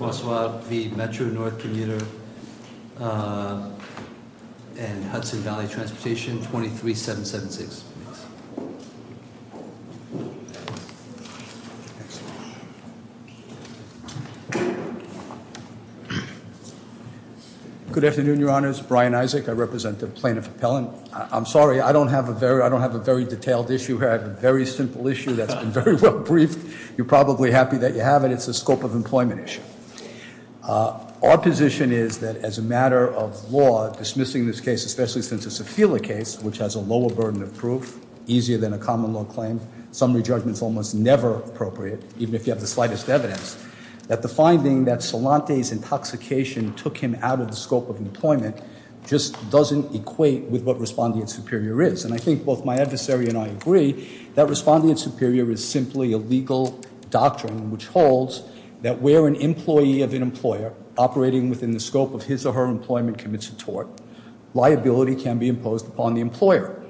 and Hudson Valley Transportation, 23776. Good afternoon, your honors. Brian Isaac, I represent the plaintiff appellant. I'm sorry, I don't have a very detailed issue here. I have a very simple issue that's been very well briefed. You're probably happy that you have it. But it's a scope of employment issue. Our position is that as a matter of law, dismissing this case, especially since it's a Fela case, which has a lower burden of proof, easier than a common law claim, summary judgment's almost never appropriate, even if you have the slightest evidence, that the finding that Solante's intoxication took him out of the scope of employment. Just doesn't equate with what Respondent Superior is. And I think both my adversary and I agree that Respondent Superior is simply a legal doctrine which holds that where an employee of an employer operating within the scope of his or her employment commits a tort, liability can be imposed upon the employer.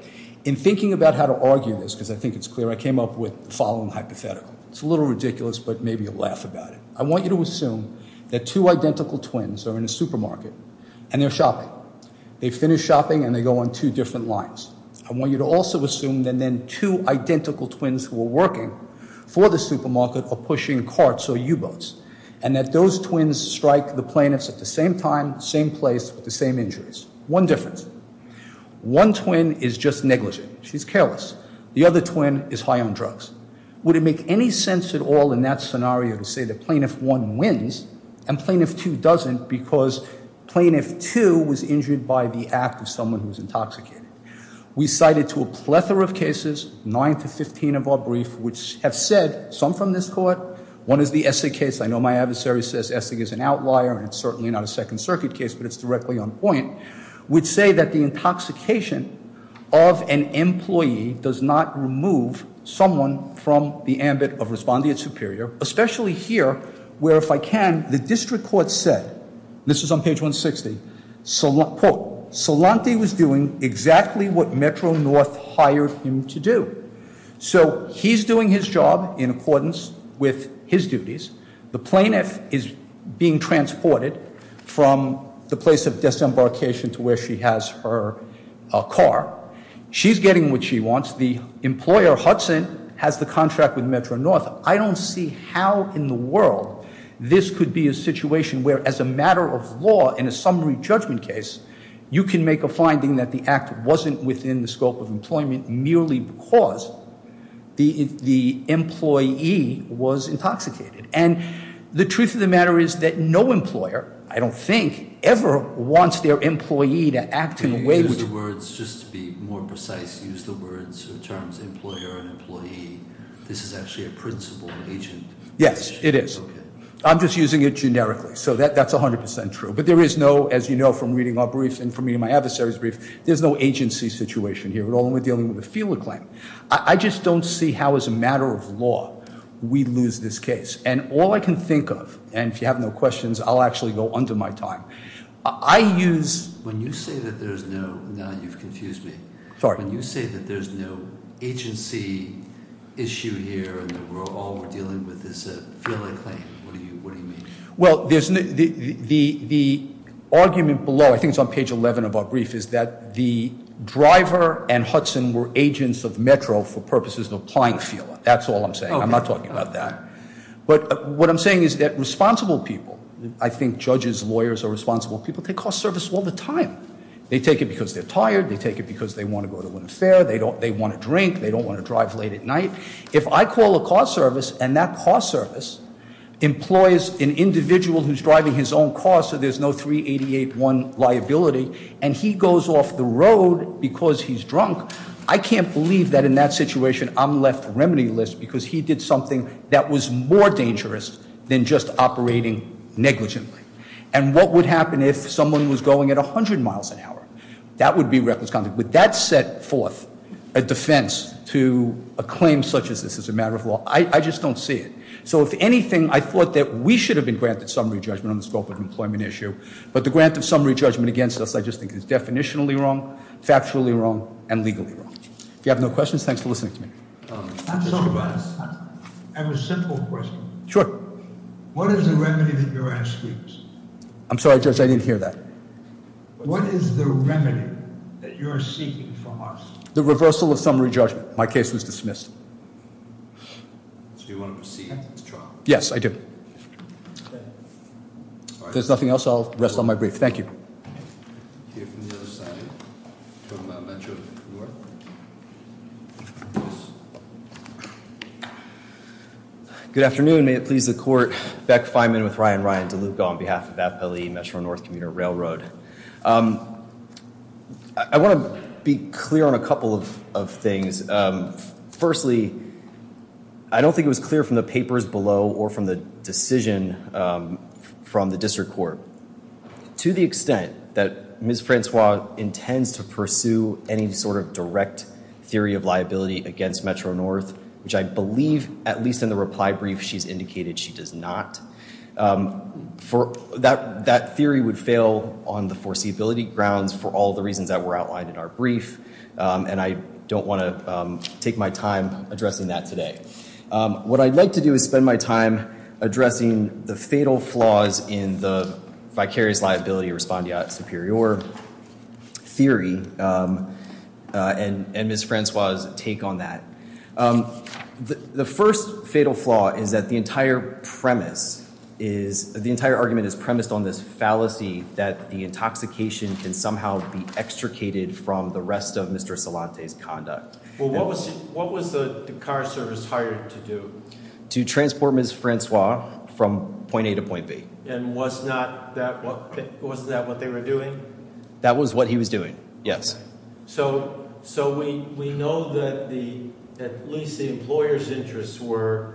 In thinking about how to argue this, because I think it's clear, I came up with the following hypothetical. It's a little ridiculous, but maybe you'll laugh about it. I want you to assume that two identical twins are in a supermarket and they're shopping. They finish shopping and they go on two different lines. I want you to also assume that then two identical twins who are working for the supermarket are pushing carts or U-boats. And that those twins strike the plaintiffs at the same time, same place, with the same injuries. One difference, one twin is just negligent, she's careless. The other twin is high on drugs. Would it make any sense at all in that scenario to say that plaintiff one wins and plaintiff two was injured by the act of someone who was intoxicated? We cited to a plethora of cases, nine to 15 of our brief, which have said, some from this court. One is the Essig case, I know my adversary says Essig is an outlier and it's certainly not a Second Circuit case, but it's directly on point. Which say that the intoxication of an employee does not remove someone from the ambit of Respondent Superior. Especially here, where if I can, the district court said, this is on page 160, quote, Solanti was doing exactly what Metro North hired him to do. So he's doing his job in accordance with his duties. The plaintiff is being transported from the place of disembarkation to where she has her car. She's getting what she wants. The employer, Hudson, has the contract with Metro North. I don't see how in the world this could be a situation where, as a matter of law, in a summary judgment case, you can make a finding that the act wasn't within the scope of employment merely because the employee was intoxicated. And the truth of the matter is that no employer, I don't think, ever wants their employee to act in a way which- These words, just to be more precise, use the words or terms employer and employee. This is actually a principal agent. Yes, it is. I'm just using it generically, so that's 100% true. But there is no, as you know from reading our briefs and from reading my adversary's brief, there's no agency situation here at all, and we're dealing with a feeler claim. I just don't see how, as a matter of law, we lose this case. And all I can think of, and if you have no questions, I'll actually go under my time. I use- When you say that there's no, now you've confused me. Sorry. When you say that there's no agency issue here and that all we're dealing with is a feeler claim, what do you mean? Well, the argument below, I think it's on page 11 of our brief, is that the driver and Hudson were agents of Metro for purposes of applying feeler. That's all I'm saying, I'm not talking about that. But what I'm saying is that responsible people, I think judges, lawyers are responsible people, they call service all the time. They take it because they're tired, they take it because they want to go to an affair, they want a drink, they don't want to drive late at night. If I call a car service and that car service employs an individual who's driving his own car so there's no 388-1 liability and he goes off the road because he's drunk, I can't believe that in that situation I'm left remedy list because he did something that was more dangerous than just operating negligently. And what would happen if someone was going at 100 miles an hour? That would be reckless conduct. Would that set forth a defense to a claim such as this as a matter of law? I just don't see it. So if anything, I thought that we should have been granted summary judgment on the scope of employment issue. But the grant of summary judgment against us, I just think is definitionally wrong, factually wrong, and legally wrong. If you have no questions, thanks for listening to me. I have a simple question. Sure. What is the remedy that you're asking? I'm sorry, Judge, I didn't hear that. What is the remedy that you're seeking from us? The reversal of summary judgment. My case was dismissed. So you want to proceed with the trial? Yes, I do. If there's nothing else, I'll rest on my brief. Thank you. Good afternoon, may it please the court. Beck Fineman with Ryan Ryan DeLuca on behalf of Appellee Metro North Commuter Railroad. I want to be clear on a couple of things. Firstly, I don't think it was clear from the papers below or from the decision from the district court. To the extent that Ms. Francois intends to pursue any sort of direct theory of liability against Metro North, which I believe, at least in the reply brief, she's indicated she does not. That theory would fail on the foreseeability grounds for all the reasons that were outlined in our brief. And I don't want to take my time addressing that today. What I'd like to do is spend my time addressing the fatal flaws in the vicarious liability respondeat superior theory and Ms. Francois' take on that. The first fatal flaw is that the entire premise is, the entire argument is premised on this fallacy that the intoxication can somehow be extricated from the rest of Mr. Solante's conduct. Well, what was the car service hired to do? To transport Ms. Francois from point A to point B. And was that what they were doing? That was what he was doing, yes. So we know that at least the employer's interests were,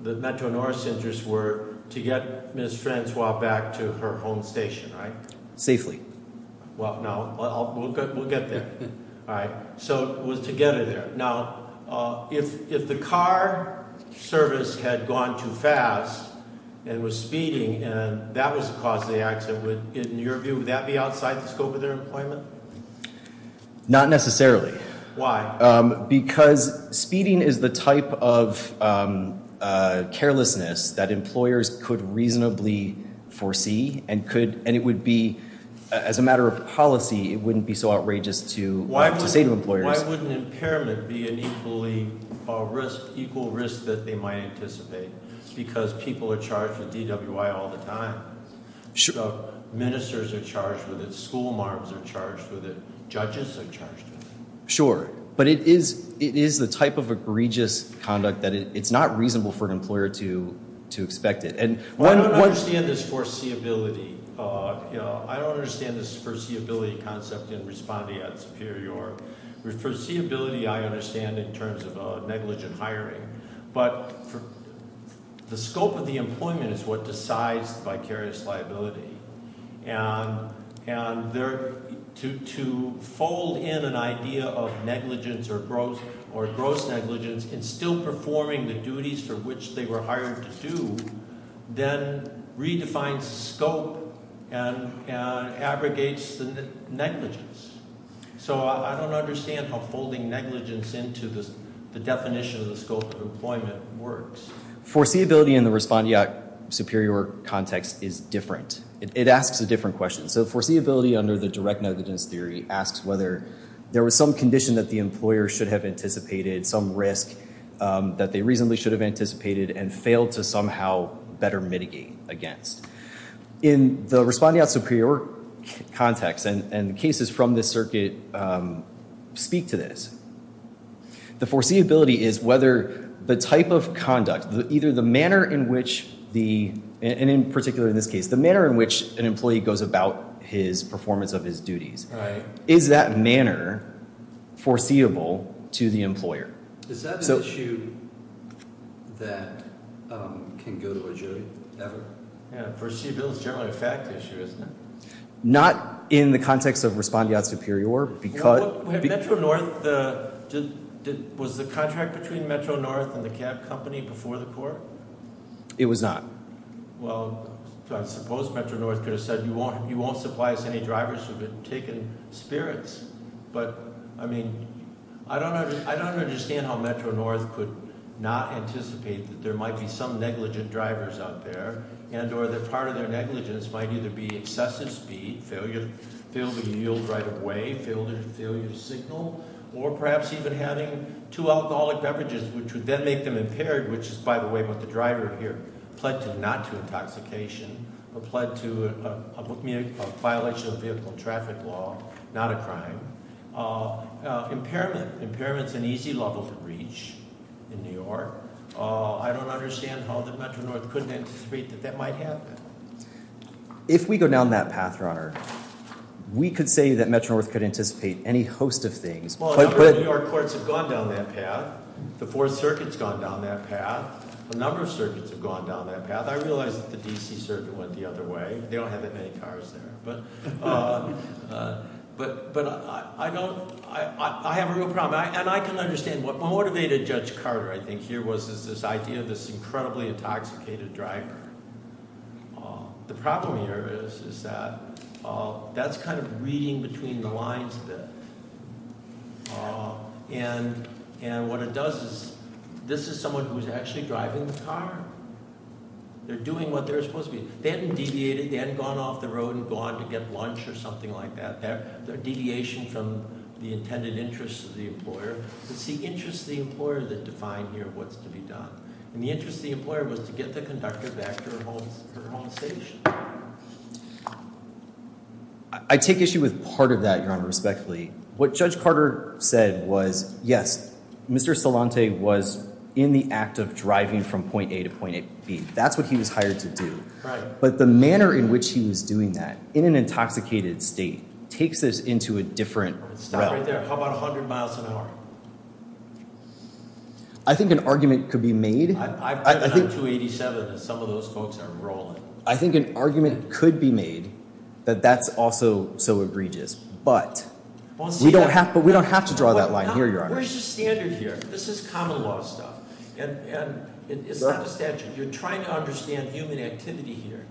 the Metro North's interests were to get Ms. Francois back to her home station, right? Safely. Well, no, we'll get there. All right, so it was to get her there. Now, if the car service had gone too fast and it was speeding and that was the cause of the accident, in your view, would that be outside the scope of their employment? Not necessarily. Why? Because speeding is the type of carelessness that employers could reasonably foresee and could, and it would be, as a matter of policy, it wouldn't be so outrageous to say to employers. Why wouldn't impairment be an equally, a risk, equal risk that they might anticipate? Because people are charged with DWI all the time. Ministers are charged with it, school marbs are charged with it, judges are charged with it. Sure, but it is the type of egregious conduct that it's not reasonable for an employer to expect it. And one- I don't understand this foreseeability, I don't understand this foreseeability concept in responding at Superior. Foreseeability I understand in terms of negligent hiring, but for the scope of the employment is what decides vicarious liability. And to fold in an idea of negligence or gross negligence and still performing the duties for which they were hired to do, then redefines scope and abrogates the negligence. So I don't understand how folding negligence into the definition of the scope of employment works. Foreseeability in the respondeat superior context is different. It asks a different question. So foreseeability under the direct negligence theory asks whether there was some condition that the employer should have anticipated, some risk that they reasonably should have anticipated and failed to somehow better mitigate against. In the respondeat superior context, and the cases from this circuit speak to this. The foreseeability is whether the type of conduct, either the manner in which the, and in particular in this case, the manner in which an employee goes about his performance of his duties. Is that manner foreseeable to the employer? Is that an issue that can go to a jury ever? Yeah, foreseeability is generally a fact issue, isn't it? Not in the context of respondeat superior, because- Was the contract between Metro North and the cab company before the court? It was not. Well, I suppose Metro North could have said, you won't supply us any drivers who have been taken spirits. But, I mean, I don't understand how Metro North could not anticipate that there might be some negligent drivers out there. And or that part of their negligence might either be excessive speed, failure to yield right away, failure to signal, or perhaps even having two alcoholic beverages, which would then make them impaired. Which is, by the way, what the driver here pled to, not to intoxication, but pled to a violation of vehicle traffic law, not a crime. Impairment, impairment's an easy level to reach in New York. I don't understand how the Metro North couldn't anticipate that that might happen. If we go down that path, Your Honor, we could say that Metro North could anticipate any host of things. But- Well, a number of New York courts have gone down that path. The Fourth Circuit's gone down that path. A number of circuits have gone down that path. I realize that the DC Circuit went the other way. They don't have that many cars there. But I have a real problem, and I can understand. What motivated Judge Carter, I think, here, was this idea of this incredibly intoxicated driver. The problem here is that that's kind of reading between the lines a bit. And what it does is, this is someone who's actually driving the car. They're doing what they're supposed to be. They haven't deviated. They haven't gone off the road and gone to get lunch or something like that. They're a deviation from the intended interests of the employer. It's the interests of the employer that define here what's to be done. And the interest of the employer was to get the conductor back to her home station. I take issue with part of that, Your Honor, respectfully. What Judge Carter said was, yes, Mr. Solante was in the act of driving from point A to point B. That's what he was hired to do. But the manner in which he was doing that, in an intoxicated state, takes us into a different realm. Stop right there. How about 100 miles an hour? I think an argument could be made. I've driven on 287, and some of those folks are rolling. I think an argument could be made that that's also so egregious. But we don't have to draw that line here, Your Honor. Where's the standard here? This is common law stuff. And it's not the statute. You're trying to understand human activity here.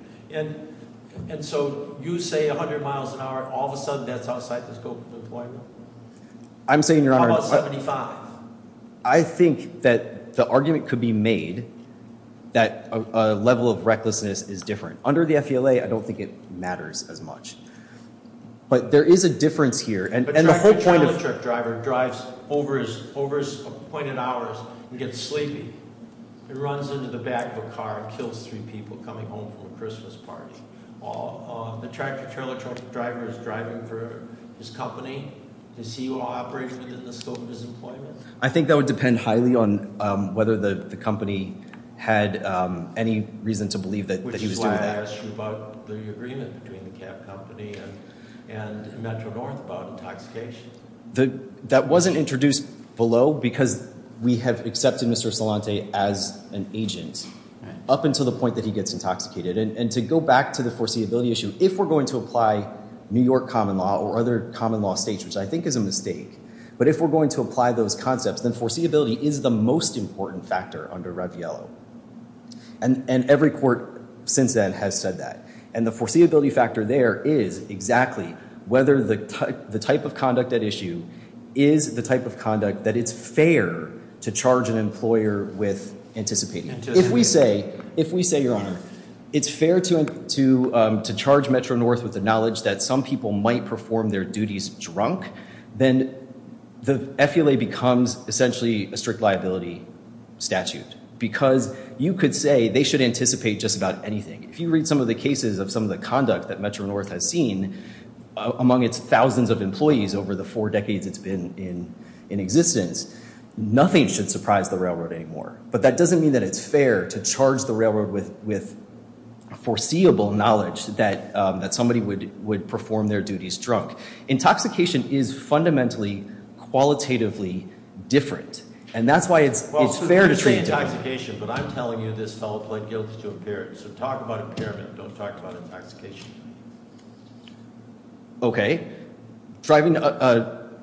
And so you say 100 miles an hour, all of a sudden that's outside the scope of the employer. I'm saying, Your Honor- How about 75? I think that the argument could be made that a level of recklessness is different. Under the FELA, I don't think it matters as much. But there is a difference here. And the whole point of- But a child truck driver drives over his appointed hours and gets sleepy. He runs into the back of a car and kills three people coming home from a Christmas party. The tractor trailer driver is driving for his company. Does he operate within the scope of his employment? I think that would depend highly on whether the company had any reason to believe that he was doing that. Which is why I asked you about the agreement between the cab company and Metro North about intoxication. That wasn't introduced below because we have accepted Mr. Solante as an agent up until the point that he gets intoxicated. And to go back to the foreseeability issue, if we're going to apply New York common law or other common law states, which I think is a mistake. But if we're going to apply those concepts, then foreseeability is the most important factor under Raviello. And every court since then has said that. And the foreseeability factor there is exactly whether the type of conduct at issue is the type of conduct that it's fair to charge an employer with anticipating. If we say, your honor, it's fair to charge Metro North with the knowledge that some people might perform their duties drunk. Then the FULA becomes essentially a strict liability statute. Because you could say they should anticipate just about anything. If you read some of the cases of some of the conduct that Metro North has seen among its thousands of employees over the four decades it's been in existence. Nothing should surprise the railroad anymore. But that doesn't mean that it's fair to charge the railroad with foreseeable knowledge that somebody would perform their duties drunk. Intoxication is fundamentally, qualitatively different. And that's why it's fair to treat it that way. But I'm telling you this fellow pled guilty to impairment. So talk about impairment, don't talk about intoxication. Okay. Driving,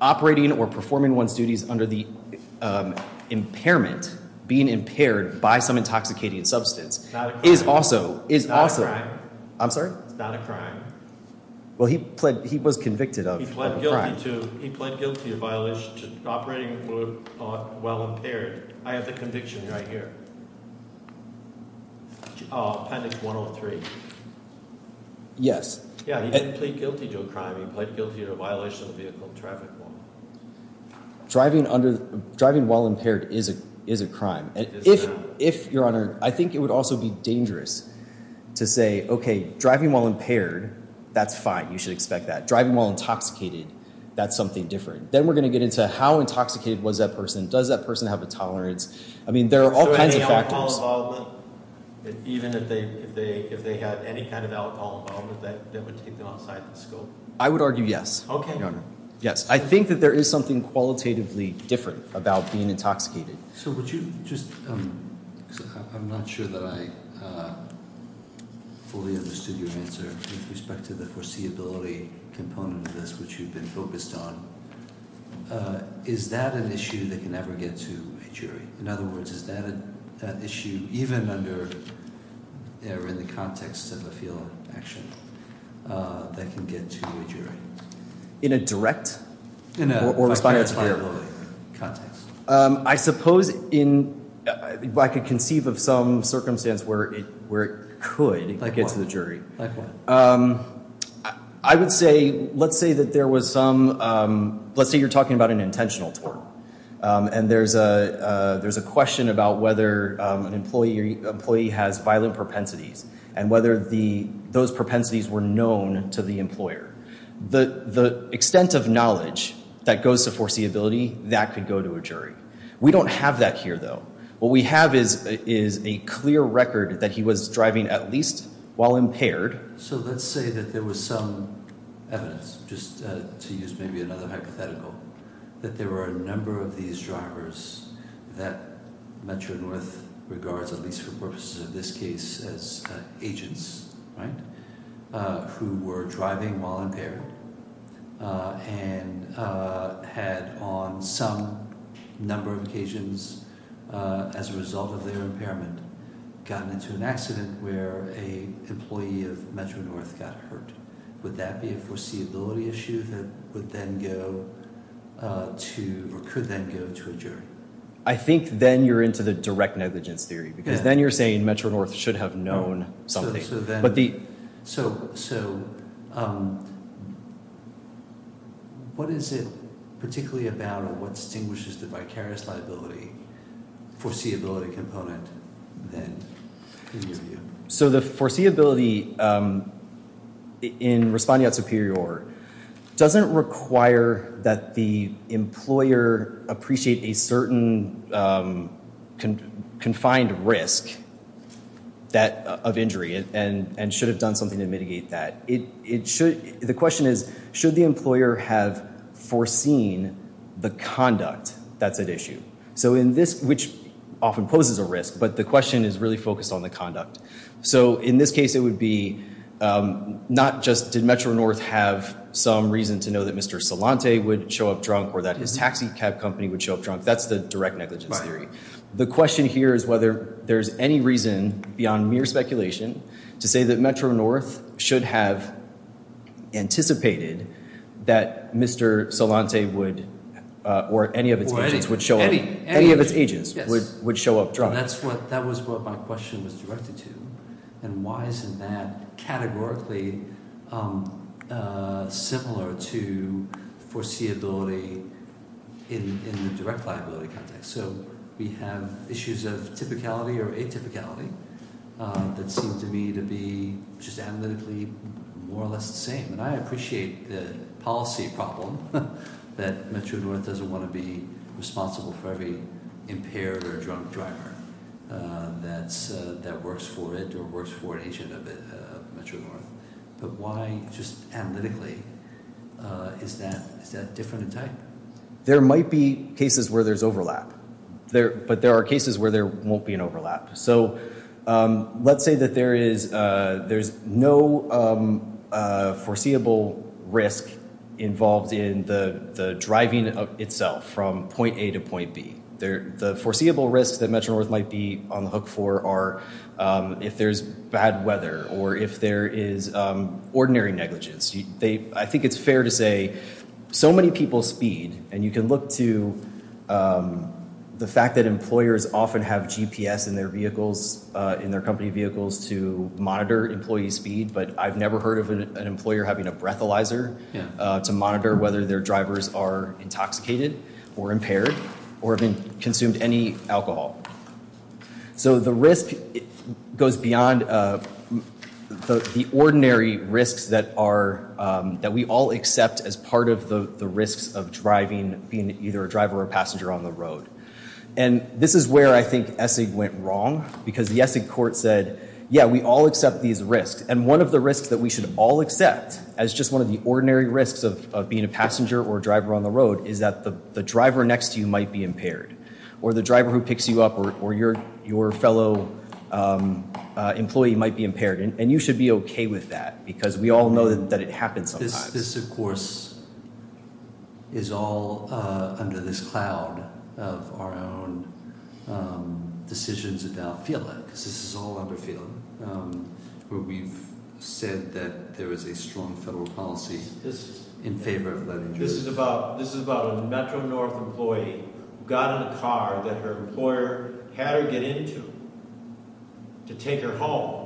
operating or performing one's duties under the impairment, being impaired by some intoxicating substance, is also- It's not a crime. I'm sorry? It's not a crime. Well, he was convicted of a crime. He pled guilty of violation, operating while impaired. I have the conviction right here. Appendix 103. Yes. Yeah, he didn't plead guilty to a crime. He pled guilty to a violation of the vehicle traffic law. Driving while impaired is a crime. And if, your honor, I think it would also be dangerous to say, okay, driving while impaired, that's fine. You should expect that. Driving while intoxicated, that's something different. Then we're going to get into how intoxicated was that person? Does that person have a tolerance? I mean, there are all kinds of factors. So any alcohol involved with them? Even if they had any kind of alcohol involved with them, that would take them outside the scope? I would argue yes. Okay. Yes, I think that there is something qualitatively different about being intoxicated. So would you just, because I'm not sure that I fully understood your answer with respect to the foreseeability component of this, which you've been focused on. Is that an issue that can ever get to a jury? In other words, is that an issue, even under, or in the context of a field action, that can get to a jury? In a direct? In a context. I suppose I could conceive of some circumstance where it could get to the jury. Like what? I would say, let's say that there was some, let's say you're talking about an intentional tort. And there's a question about whether an employee has violent propensities and whether those propensities were known to the employer. The extent of knowledge that goes to foreseeability, that could go to a jury. We don't have that here, though. What we have is a clear record that he was driving at least while impaired. So let's say that there was some evidence, just to use maybe another hypothetical, that there were a number of these drivers that Metro-North regards, at least for purposes of this case, as agents, right? Who were driving while impaired and had, on some number of occasions, as a result of their impairment, gotten into an accident where an employee of Metro-North got hurt. Would that be a foreseeability issue that would then go to, or could then go to a jury? I think then you're into the direct negligence theory. Because then you're saying Metro-North should have known something. So what is it particularly about or what distinguishes the vicarious liability foreseeability component, then, in your view? So the foreseeability in responding out superior doesn't require that the employer appreciate a certain confined risk of injury and should have done something to mitigate that. It should, the question is, should the employer have foreseen the conduct that's at issue? So in this, which often poses a risk, but the question is really focused on the conduct. So in this case, it would be not just did Metro-North have some reason to know that Mr. Solante would show up drunk or that his taxi cab company would show up drunk. That's the direct negligence theory. The question here is whether there's any reason beyond mere speculation to say that Metro-North should have anticipated that Mr. Solante would, or any of its agents, would show up, any of its agents would show up drunk. That's what, that was what my question was directed to. And why isn't that categorically similar to foreseeability in the direct liability context? So we have issues of typicality or atypicality that seem to me to be just analytically more or less the same. And I appreciate the policy problem that Metro-North doesn't want to be responsible for every impaired or drunk driver that's, that works for it or works for an agent of Metro-North. But why just analytically is that, is that different in type? There might be cases where there's overlap. There, but there are cases where there won't be an overlap. So let's say that there is, there's no foreseeable risk involved in the driving itself from point A to point B. There, the foreseeable risks that Metro-North might be on the hook for are if there's bad weather or if there is ordinary negligence. They, I think it's fair to say so many people speed and you can look to the fact that employers often have GPS in their vehicles, in their company vehicles to monitor employee speed. But I've never heard of an employer having a breathalyzer to monitor whether their drivers are intoxicated or impaired or have consumed any alcohol. So the risk goes beyond the ordinary risks that are, that we all accept as part of the risks of driving, being either a driver or passenger on the road. And this is where I think ESSIG went wrong because the ESSIG court said, yeah, we all accept these risks. And one of the risks that we should all accept as just one of the ordinary risks of being a passenger or a driver on the road is that the driver next to you might be impaired. Or the driver who picks you up or your fellow employee might be impaired. And you should be okay with that because we all know that it happens sometimes. This, of course, is all under this cloud of our own decisions about FEALA, because this is all under FEALA. Where we've said that there is a strong federal policy in favor of letting drivers. This is about a Metro-North employee who got in a car that her employer had her get into to take her home.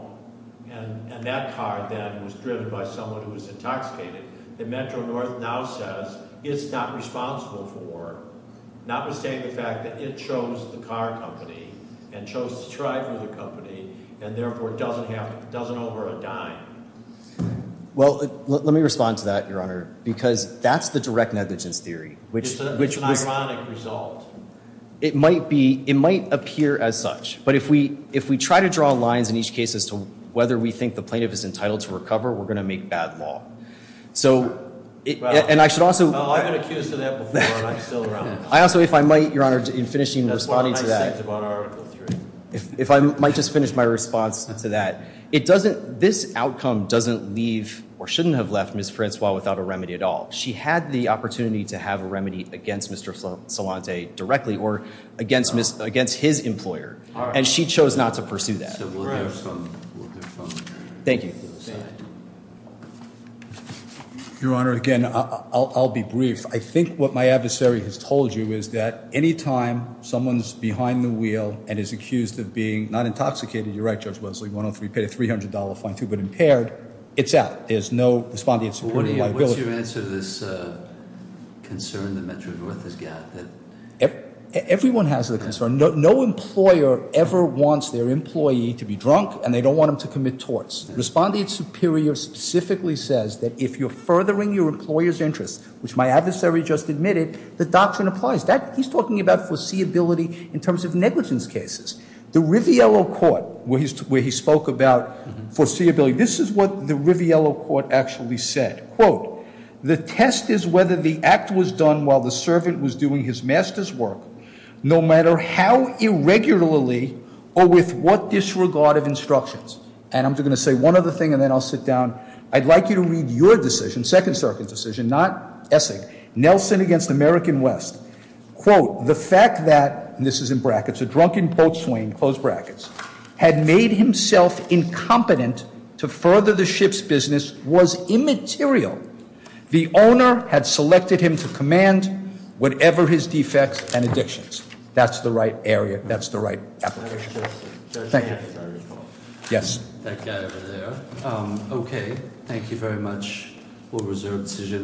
And that car then was driven by someone who was intoxicated. The Metro-North now says it's not responsible for, notwithstanding the fact that it chose the car company. And chose to drive with the company, and therefore doesn't owe her a dime. Well, let me respond to that, Your Honor, because that's the direct negligence theory. Which is an ironic result. It might appear as such. But if we try to draw lines in each case as to whether we think the plaintiff is entitled to recover, we're going to make bad law. So, and I should also- Well, I've been accused of that before, and I'm still around. I also, if I might, Your Honor, in finishing and responding to that, if I might just finish my response to that. It doesn't, this outcome doesn't leave, or shouldn't have left Ms. Francois without a remedy at all. She had the opportunity to have a remedy against Mr. Solante directly, or against his employer. And she chose not to pursue that. So we'll hear from- Thank you. Thank you. Your Honor, again, I'll be brief. I think what my adversary has told you is that any time someone's behind the wheel and is accused of being, not intoxicated, you're right, Judge Wesley, 103, paid a $300 fine too, but impaired. It's out. There's no responding and supporting liability. What's your answer to this concern the Metro-North has got? Everyone has a concern. No employer ever wants their employee to be drunk, and they don't want them to commit torts. Respondent Superior specifically says that if you're furthering your employer's interests, which my adversary just admitted, the doctrine applies. He's talking about foreseeability in terms of negligence cases. The Riviello Court, where he spoke about foreseeability, this is what the Riviello Court actually said, quote. The test is whether the act was done while the servant was doing his master's work, no matter how irregularly or with what disregard of instructions. And I'm just going to say one other thing, and then I'll sit down. I'd like you to read your decision, Second Circuit decision, not Essig, Nelson against American West. Quote, the fact that, and this is in brackets, a drunken boat swing, close brackets, had made himself incompetent to further the ship's business was immaterial. The owner had selected him to command whatever his defects and addictions. That's the right area, that's the right application. Thank you. Yes. That guy over there. Okay, thank you very much. We'll reserve decision.